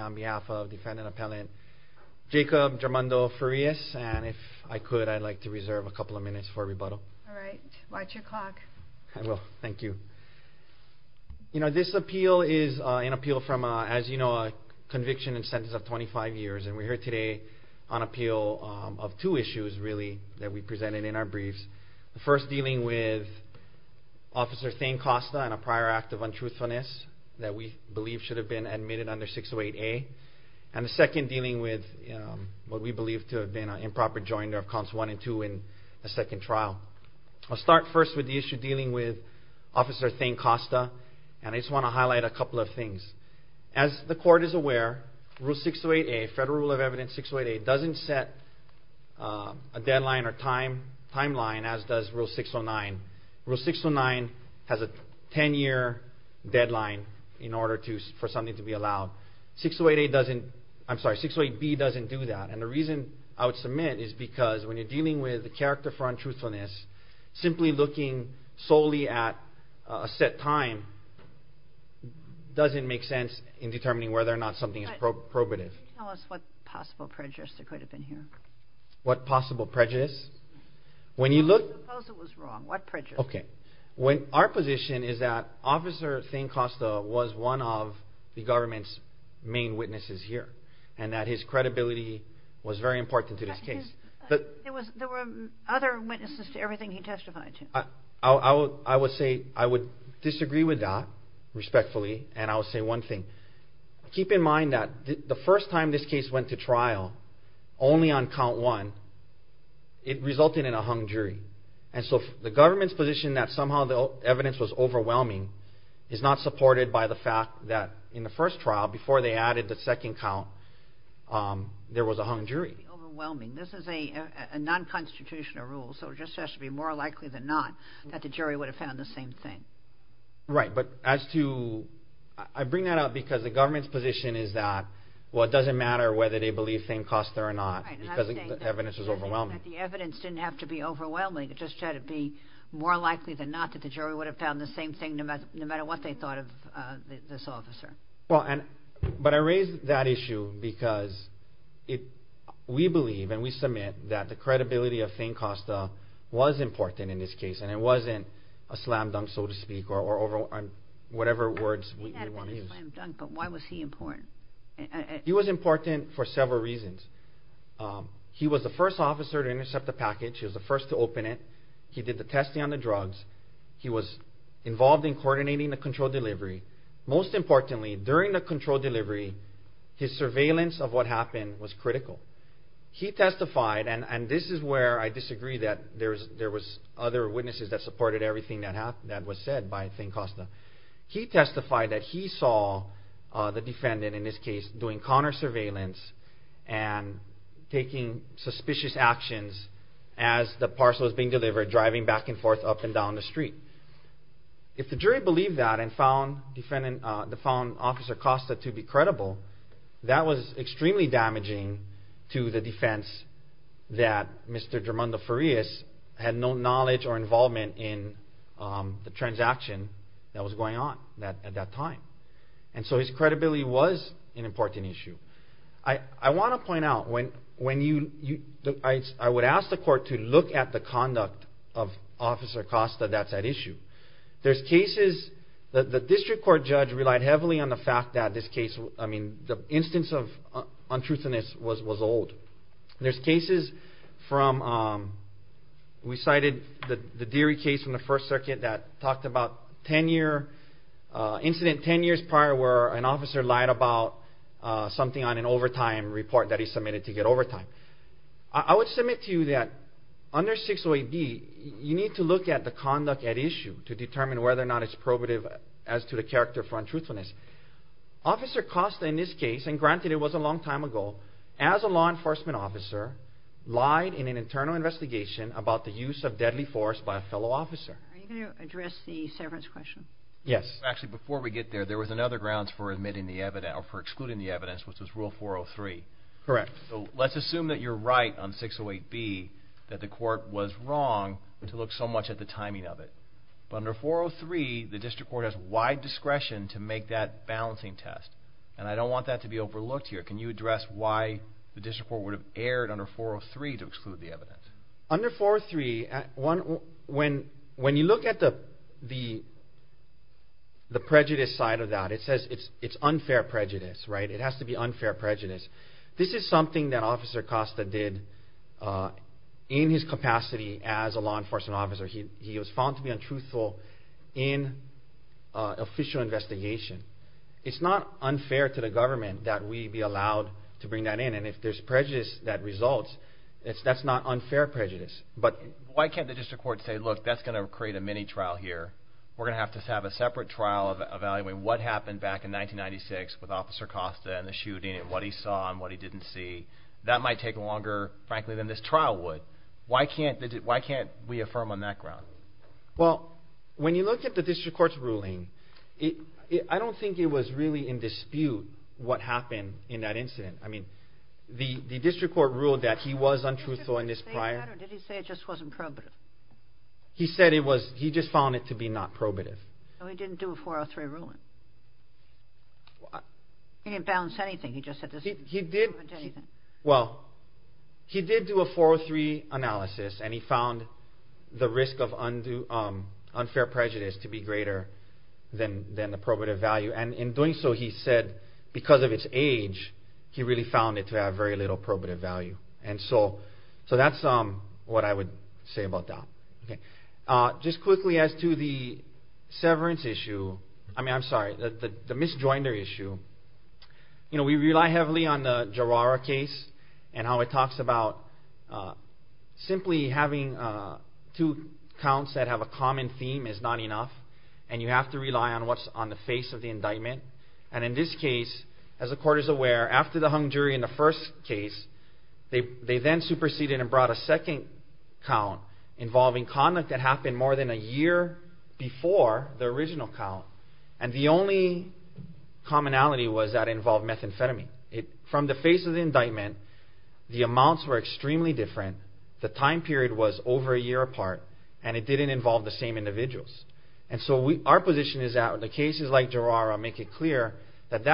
on behalf of defendant appellant Jacob Drummondo-Farias and if I could I'd like to reserve a couple of minutes for rebuttal. Alright, watch your clock. I will, thank you. You know, this appeal is an appeal from, as you know, a conviction and sentence of 25 years. And we're here today on appeal of two issues, really, that we presented in our briefs. The first dealing with Officer Thayne Costa and a prior act of untruthfulness that we believe should have been admitted under 608A. And the second dealing with what we believe to have been an improper jointer of counts 1 and 2 in the second trial. I'll start first with the issue dealing with Officer Thayne Costa and I just want to highlight a couple of things. As the court is aware, Rule 608A, Federal Rule of Evidence 608A, doesn't set a deadline or timeline as does Rule 609. Rule 609 has a 10-year deadline in order for something to be allowed. 608A doesn't, I'm sorry, 608B doesn't do that. And the reason I would submit is because when you're dealing with a character for untruthfulness, simply looking solely at a set time doesn't make sense in determining whether or not something is probative. Can you tell us what possible prejudice there could have been here? What possible prejudice? I suppose it was wrong. What prejudice? Okay. Our position is that Officer Thayne Costa was one of the government's main witnesses here. And that his credibility was very important to this case. There were other witnesses to everything he testified to. I would disagree with that, respectfully, and I'll say one thing. Keep in mind that the first time this case went to trial, only on count one, it resulted in a hung jury. And so the government's position that somehow the evidence was overwhelming is not supported by the fact that in the first trial, before they added the second count, there was a hung jury. Overwhelming. This is a non-constitutional rule. So it just has to be more likely than not that the jury would have found the same thing. Right. But as to – I bring that up because the government's position is that, well, it doesn't matter whether they believe Thayne Costa or not because the evidence is overwhelming. The evidence didn't have to be overwhelming. It just had to be more likely than not that the jury would have found the same thing, no matter what they thought of this officer. But I raise that issue because we believe and we submit that the credibility of Thayne Costa was important in this case, and it wasn't a slam dunk, so to speak, or whatever words we want to use. He had been a slam dunk, but why was he important? He was important for several reasons. He was the first officer to intercept the package. He was the first to open it. He did the testing on the drugs. He was involved in coordinating the controlled delivery. Most importantly, during the controlled delivery, his surveillance of what happened was critical. He testified, and this is where I disagree that there was other witnesses that supported everything that was said by Thayne Costa. He testified that he saw the defendant, in this case, doing counter surveillance and taking suspicious actions as the parcel was being delivered, driving back and forth up and down the street. If the jury believed that and found Officer Costa to be credible, that was extremely damaging to the defense that Mr. Germando Farias had no knowledge or involvement in the transaction that was going on at that time. And so his credibility was an important issue. I want to point out, I would ask the court to look at the conduct of Officer Costa that's at issue. There's cases that the district court judge relied heavily on the fact that this case, I mean, the instance of untruthfulness was old. There's cases from, we cited the Deary case from the First Circuit that talked about 10 year, 10 years prior where an officer lied about something on an overtime report that he submitted to get overtime. I would submit to you that under 608B, you need to look at the conduct at issue to determine whether or not it's probative as to the character for untruthfulness. Officer Costa, in this case, and granted it was a long time ago, as a law enforcement officer lied in an internal investigation about the use of deadly force by a fellow officer. Are you going to address the severance question? Yes. Actually, before we get there, there was another grounds for admitting the evidence, or for excluding the evidence, which was Rule 403. Correct. So let's assume that you're right on 608B, that the court was wrong to look so much at the timing of it. But under 403, the district court has wide discretion to make that balancing test. And I don't want that to be overlooked here. Can you address why the district court would have erred under 403 to exclude the evidence? Under 403, when you look at the prejudice side of that, it says it's unfair prejudice. It has to be unfair prejudice. This is something that Officer Costa did in his capacity as a law enforcement officer. He was found to be untruthful in an official investigation. It's not unfair to the government that we be allowed to bring that in. And if there's prejudice that results, that's not unfair prejudice. But why can't the district court say, look, that's going to create a mini-trial here. We're going to have to have a separate trial evaluating what happened back in 1996 with Officer Costa and the shooting and what he saw and what he didn't see. That might take longer, frankly, than this trial would. Why can't we affirm on that ground? Well, when you look at the district court's ruling, I don't think it was really in dispute what happened in that incident. I mean, the district court ruled that he was untruthful in this prior. Did he say that or did he say it just wasn't probative? He said he just found it to be not probative. So he didn't do a 403 ruling? He didn't balance anything. He did do a 403 analysis, and he found the risk of unfair prejudice to be greater than the probative value. And in doing so, he said, because of its age, he really found it to have very little probative value. And so that's what I would say about that. Just quickly as to the severance issue, I mean, I'm sorry, the misjoinder issue, we rely heavily on the Gerara case and how it talks about simply having two counts that have a common theme is not enough. And you have to rely on what's on the face of the indictment. And in this case, as the court is aware, after the hung jury in the first case, they then superseded and brought a second count involving conduct that happened more than a year before the original count. And the only commonality was that it involved methamphetamine. From the face of the indictment, the amounts were extremely different. The time period was over a year apart, and it didn't involve the same individuals. And so our position is that the cases like Gerara make it clear that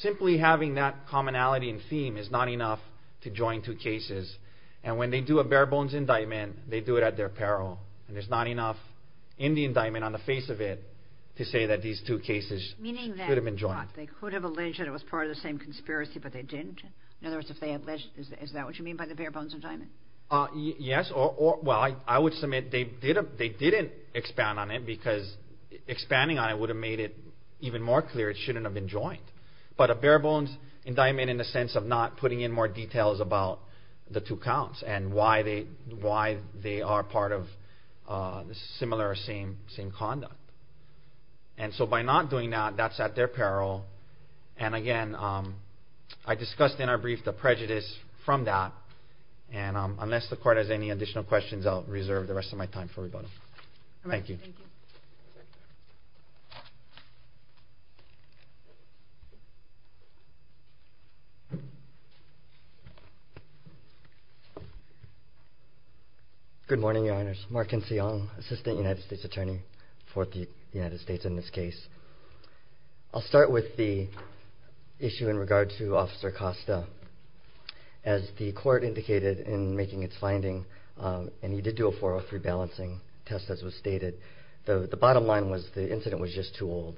simply having that commonality and theme is not enough to join two cases. And when they do a bare-bones indictment, they do it at their peril. And there's not enough in the indictment on the face of it to say that these two cases should have been joined. Meaning that they could have alleged it was part of the same conspiracy, but they didn't? In other words, if they had alleged it, is that what you mean by the bare-bones indictment? Yes. Well, I would submit they didn't expand on it because expanding on it would have made it even more clear it shouldn't have been joined. But a bare-bones indictment in the sense of not putting in more details about the two counts and why they are part of similar or same conduct. And so by not doing that, that's at their peril. And again, I discussed in our brief the prejudice from that. And unless the Court has any additional questions, I'll reserve the rest of my time for rebuttal. Thank you. Good morning, Your Honors. Mark N. Seong, Assistant United States Attorney for the United States in this case. I'll start with the issue in regard to Officer Costa. As the Court indicated in making its finding, and he did do a 403 balancing test, as was stated, the bottom line was the incident was just too old.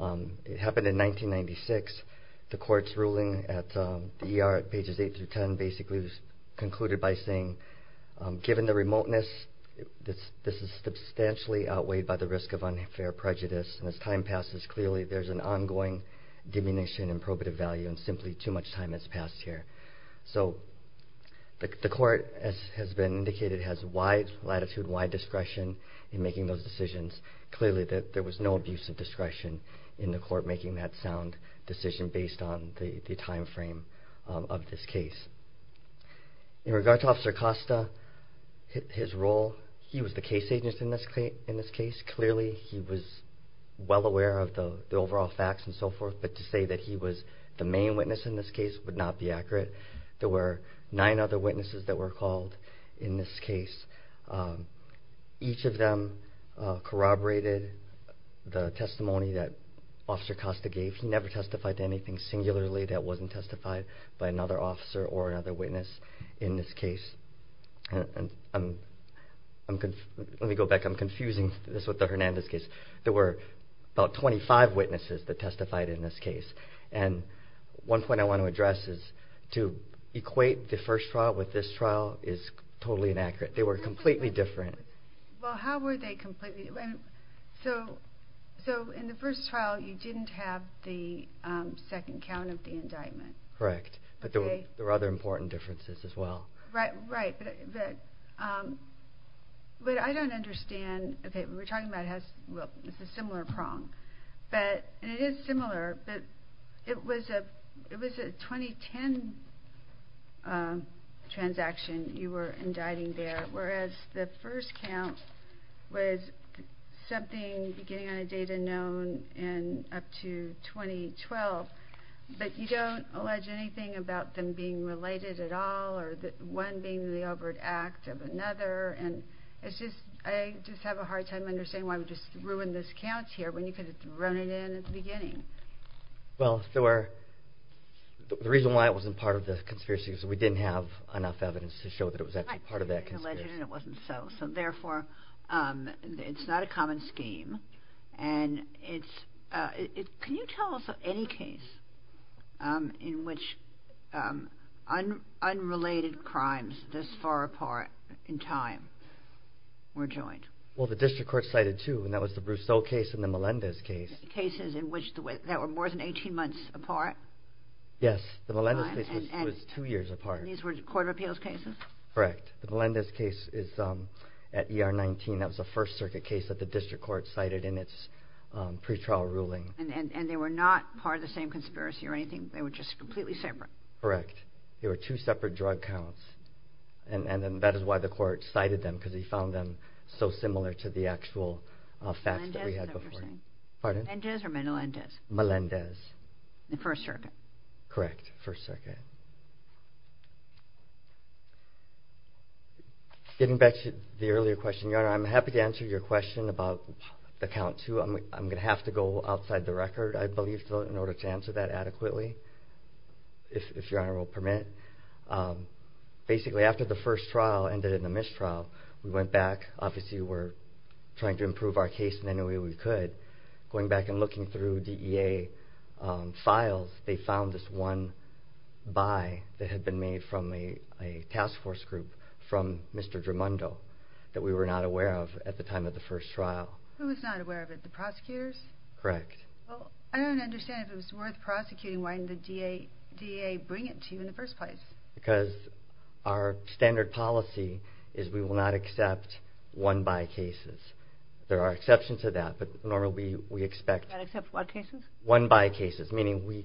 It happened in 1996. The Court's ruling at the ER at pages 8 through 10 basically was concluded by saying, Given the remoteness, this is substantially outweighed by the risk of unfair prejudice. And as time passes, clearly there's an ongoing diminution in probative value and simply too much time has passed here. So the Court, as has been indicated, has wide latitude, wide discretion in making those decisions. Clearly there was no abuse of discretion in the Court making that sound decision based on the timeframe of this case. In regard to Officer Costa, his role, he was the case agent in this case. Clearly he was well aware of the overall facts and so forth, but to say that he was the main witness in this case would not be accurate. There were nine other witnesses that were called in this case. Each of them corroborated the testimony that Officer Costa gave. He never testified to anything singularly that wasn't testified by another officer or another witness in this case. Let me go back. I'm confusing this with the Hernandez case. There were about 25 witnesses that testified in this case. And one point I want to address is to equate the first trial with this trial is totally inaccurate. They were completely different. Well, how were they completely different? So in the first trial, you didn't have the second count of the indictment. Correct, but there were other important differences as well. Right, but I don't understand. Okay, we're talking about a similar prong. It is similar, but it was a 2010 transaction you were indicting there, whereas the first count was something beginning on a date unknown and up to 2012. But you don't allege anything about them being related at all or one being the overt act of another. And I just have a hard time understanding why we just ruined those counts here when you could have thrown it in at the beginning. Well, the reason why it wasn't part of the conspiracy is we didn't have enough evidence to show that it was actually part of that conspiracy. It wasn't so. So therefore, it's not a common scheme. Can you tell us of any case in which unrelated crimes this far apart in time were joined? Well, the district court cited two, and that was the Brousseau case and the Melendez case. Cases in which they were more than 18 months apart? Yes, the Melendez case was two years apart. And these were court of appeals cases? Correct. The Melendez case is at ER 19. That was a First Circuit case that the district court cited in its pretrial ruling. And they were not part of the same conspiracy or anything? They were just completely separate? Correct. They were two separate drug counts. And that is why the court cited them, because he found them so similar to the actual facts that we had before. Melendez, is that what you're saying? Pardon? Melendez or Menelendez? Melendez. The First Circuit? Correct, First Circuit. Getting back to the earlier question, Your Honor, I'm happy to answer your question about the count two. I'm going to have to go outside the record, I believe, in order to answer that adequately, if Your Honor will permit. Basically, after the first trial ended in a mistrial, we went back. Obviously, we're trying to improve our case in any way we could. But going back and looking through DEA files, they found this one by that had been made from a task force group from Mr. Drumondo that we were not aware of at the time of the first trial. Who was not aware of it? The prosecutors? Correct. Well, I don't understand if it was worth prosecuting. Why didn't the DEA bring it to you in the first place? Because our standard policy is we will not accept one by cases. There are exceptions to that, but normally we expect one by cases, meaning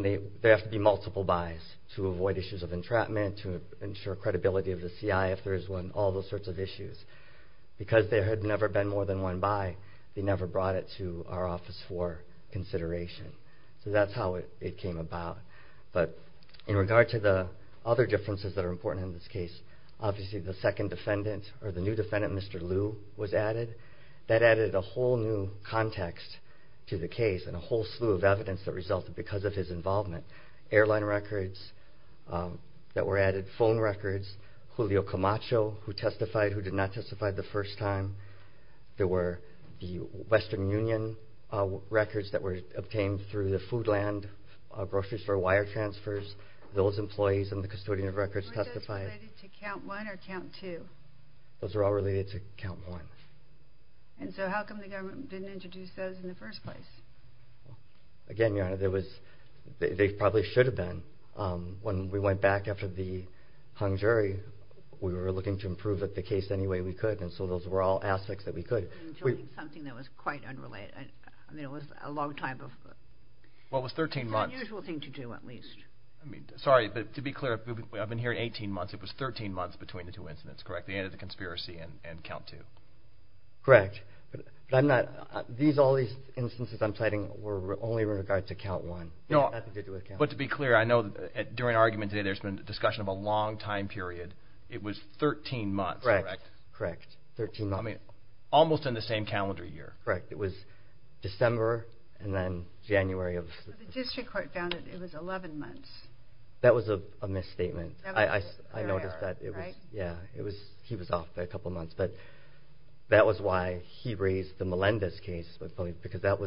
there have to be multiple bys to avoid issues of entrapment, to ensure credibility of the CI if there is one, all those sorts of issues. Because there had never been more than one by, they never brought it to our office for consideration. So that's how it came about. But in regard to the other differences that are important in this case, obviously the second defendant or the new defendant, Mr. Liu, was added. That added a whole new context to the case and a whole slew of evidence that resulted because of his involvement. Airline records that were added, phone records, Julio Camacho who testified, who did not testify the first time. There were the Western Union records that were obtained through the Foodland grocery store wire transfers. Those employees and the custodian of records testified. Are those all related to count one or count two? Those are all related to count one. And so how come the government didn't introduce those in the first place? Again, Your Honor, they probably should have been. When we went back after the hung jury, we were looking to improve the case any way we could, and so those were all aspects that we could. Something that was quite unrelated. I mean, it was a long time before. Well, it was 13 months. It's an unusual thing to do, at least. I mean, sorry, but to be clear, I've been here 18 months. It was 13 months between the two incidents, correct? The end of the conspiracy and count two. Correct. But I'm not – all these instances I'm citing were only with regard to count one. Nothing to do with count two. But to be clear, I know during argument today there's been discussion of a long time period. It was 13 months, correct? Correct. Correct. 13 months. I mean, almost in the same calendar year. Correct. It was December and then January of – The district court found that it was 11 months. That was a misstatement. I noticed that it was – yeah, he was off by a couple months. But that was why he raised the Melendez case, because that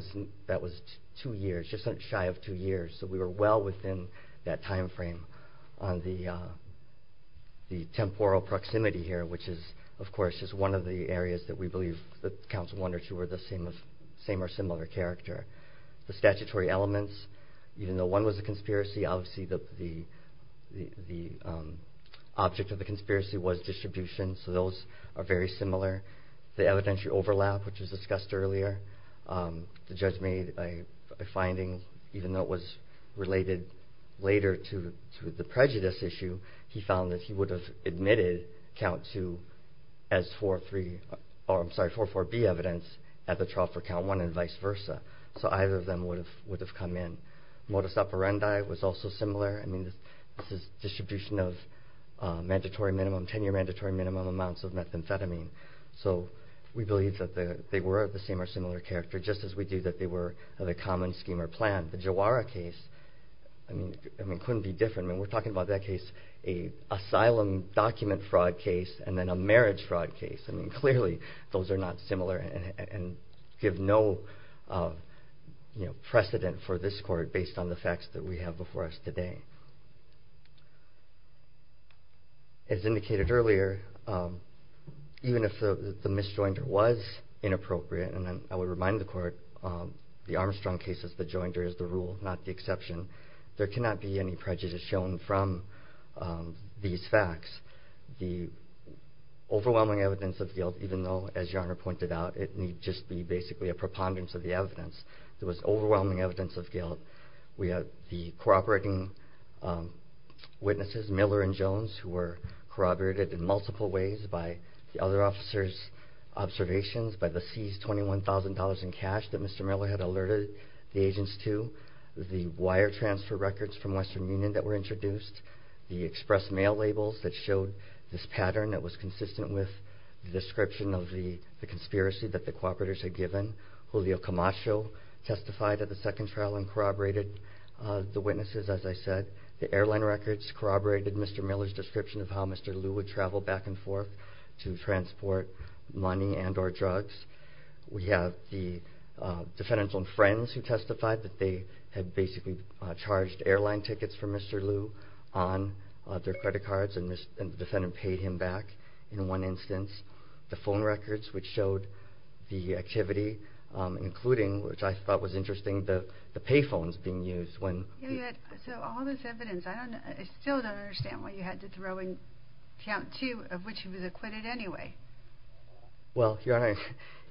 was two years, just shy of two years. So we were well within that timeframe on the temporal proximity here, which is, of course, just one of the areas that we believe that counts one or two or the same or similar character. The statutory elements, even though one was a conspiracy, obviously the object of the conspiracy was distribution, so those are very similar. The evidentiary overlap, which was discussed earlier, the judge made a finding, even though it was related later to the prejudice issue, he found that he would have admitted count two as 4-3 – so either of them would have come in. Modus operandi was also similar. I mean, this is distribution of mandatory minimum, 10-year mandatory minimum amounts of methamphetamine. So we believe that they were of the same or similar character, just as we do that they were of a common scheme or plan. The Jawara case, I mean, couldn't be different. I mean, we're talking about that case, an asylum document fraud case, and then a marriage fraud case. I mean, clearly those are not similar and give no precedent for this court based on the facts that we have before us today. As indicated earlier, even if the misjoinder was inappropriate, and I would remind the court, the Armstrong case is the joinder, is the rule, not the exception, there cannot be any prejudice shown from these facts. The overwhelming evidence of guilt, even though, as Your Honor pointed out, it need just be basically a preponderance of the evidence. There was overwhelming evidence of guilt. We have the cooperating witnesses, Miller and Jones, who were corroborated in multiple ways by the other officers' observations by the seized $21,000 in cash that Mr. Miller had alerted the agents to, the wire transfer records from Western Union that were introduced, the express mail labels that showed this pattern that was consistent with the description of the conspiracy that the cooperators had given. Julio Camacho testified at the second trial and corroborated the witnesses, as I said. The airline records corroborated Mr. Miller's description of how Mr. Liu would travel back and forth to transport money and or drugs. We have the defendant's own friends who testified that they had basically charged airline tickets for Mr. Liu. on their credit cards, and the defendant paid him back in one instance. The phone records, which showed the activity, including, which I thought was interesting, the pay phones being used. So all this evidence, I still don't understand why you had to throw in count two of which he was acquitted anyway. Well, Your Honor,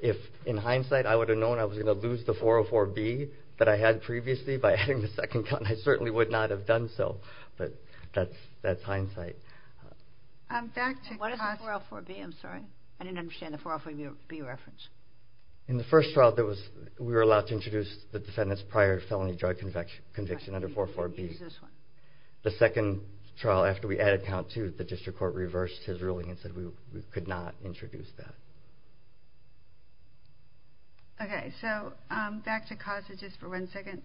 if in hindsight I would have known I was going to lose the 404-B that I had previously by adding the second count, then I certainly would not have done so. But that's hindsight. What is the 404-B? I'm sorry. I didn't understand the 404-B reference. In the first trial, we were allowed to introduce the defendant's prior felony drug conviction under 404-B. The second trial, after we added count two, the district court reversed his ruling and said we could not introduce that. Okay. So back to causes just for one second.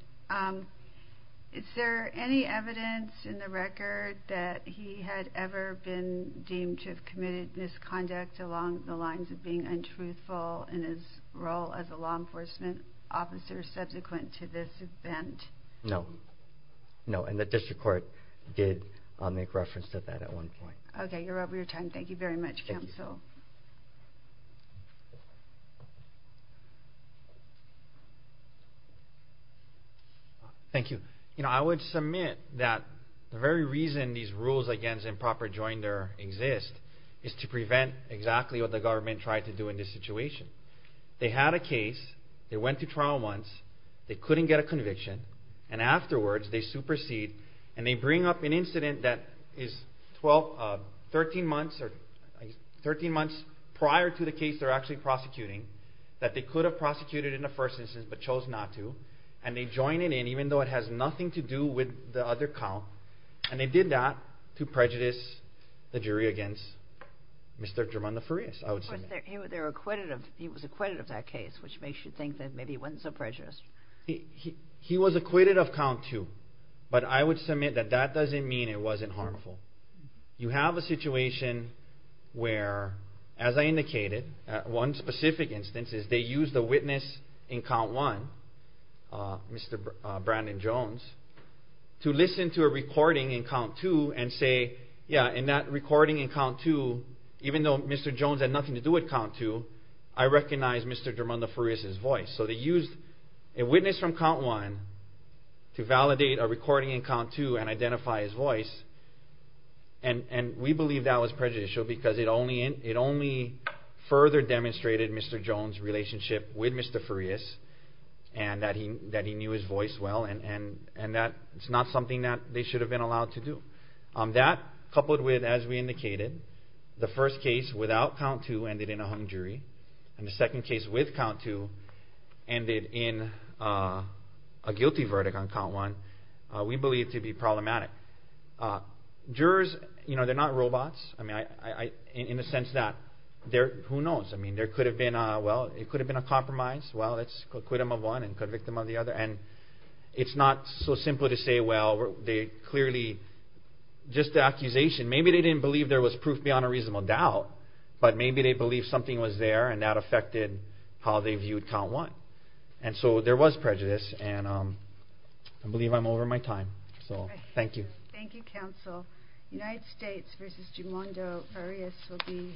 Is there any evidence in the record that he had ever been deemed to have committed misconduct along the lines of being untruthful in his role as a law enforcement officer subsequent to this event? No. No, and the district court did make reference to that at one point. Okay. You're over your time. Thank you very much, Counsel. Thank you. You know, I would submit that the very reason these rules against improper joinder exist is to prevent exactly what the government tried to do in this situation. They had a case, they went to trial once, they couldn't get a conviction, and afterwards they supersede and they bring up an incident that is 13 months prior to the case they're actually prosecuting that they could have prosecuted in the first instance but chose not to, and they join it in even though it has nothing to do with the other count, and they did that to prejudice the jury against Mr. Germando Farias. Of course, he was acquitted of that case, which makes you think that maybe he wasn't so prejudiced. He was acquitted of count two, but I would submit that that doesn't mean it wasn't harmful. You have a situation where, as I indicated, one specific instance is they used a witness in count one, Mr. Brandon Jones, to listen to a recording in count two and say, yeah, in that recording in count two, even though Mr. Jones had nothing to do with count two, I recognize Mr. Germando Farias' voice. So they used a witness from count one to validate a recording in count two and identify his voice, and we believe that was prejudicial because it only further demonstrated Mr. Jones' relationship with Mr. Farias and that he knew his voice well, and that's not something that they should have been allowed to do. That, coupled with, as we indicated, the first case without count two ended in a hung jury, and the second case with count two ended in a guilty verdict on count one, we believe to be problematic. Jurors, they're not robots in the sense that, who knows, there could have been a compromise, well, let's acquit them of one and convict them of the other, and it's not so simple to say, well, they clearly, just the accusation, maybe they didn't believe there was proof beyond a reasonable doubt, but maybe they believed something was there and that affected how they viewed count one. And so there was prejudice, and I believe I'm over my time. So, thank you. Thank you, counsel.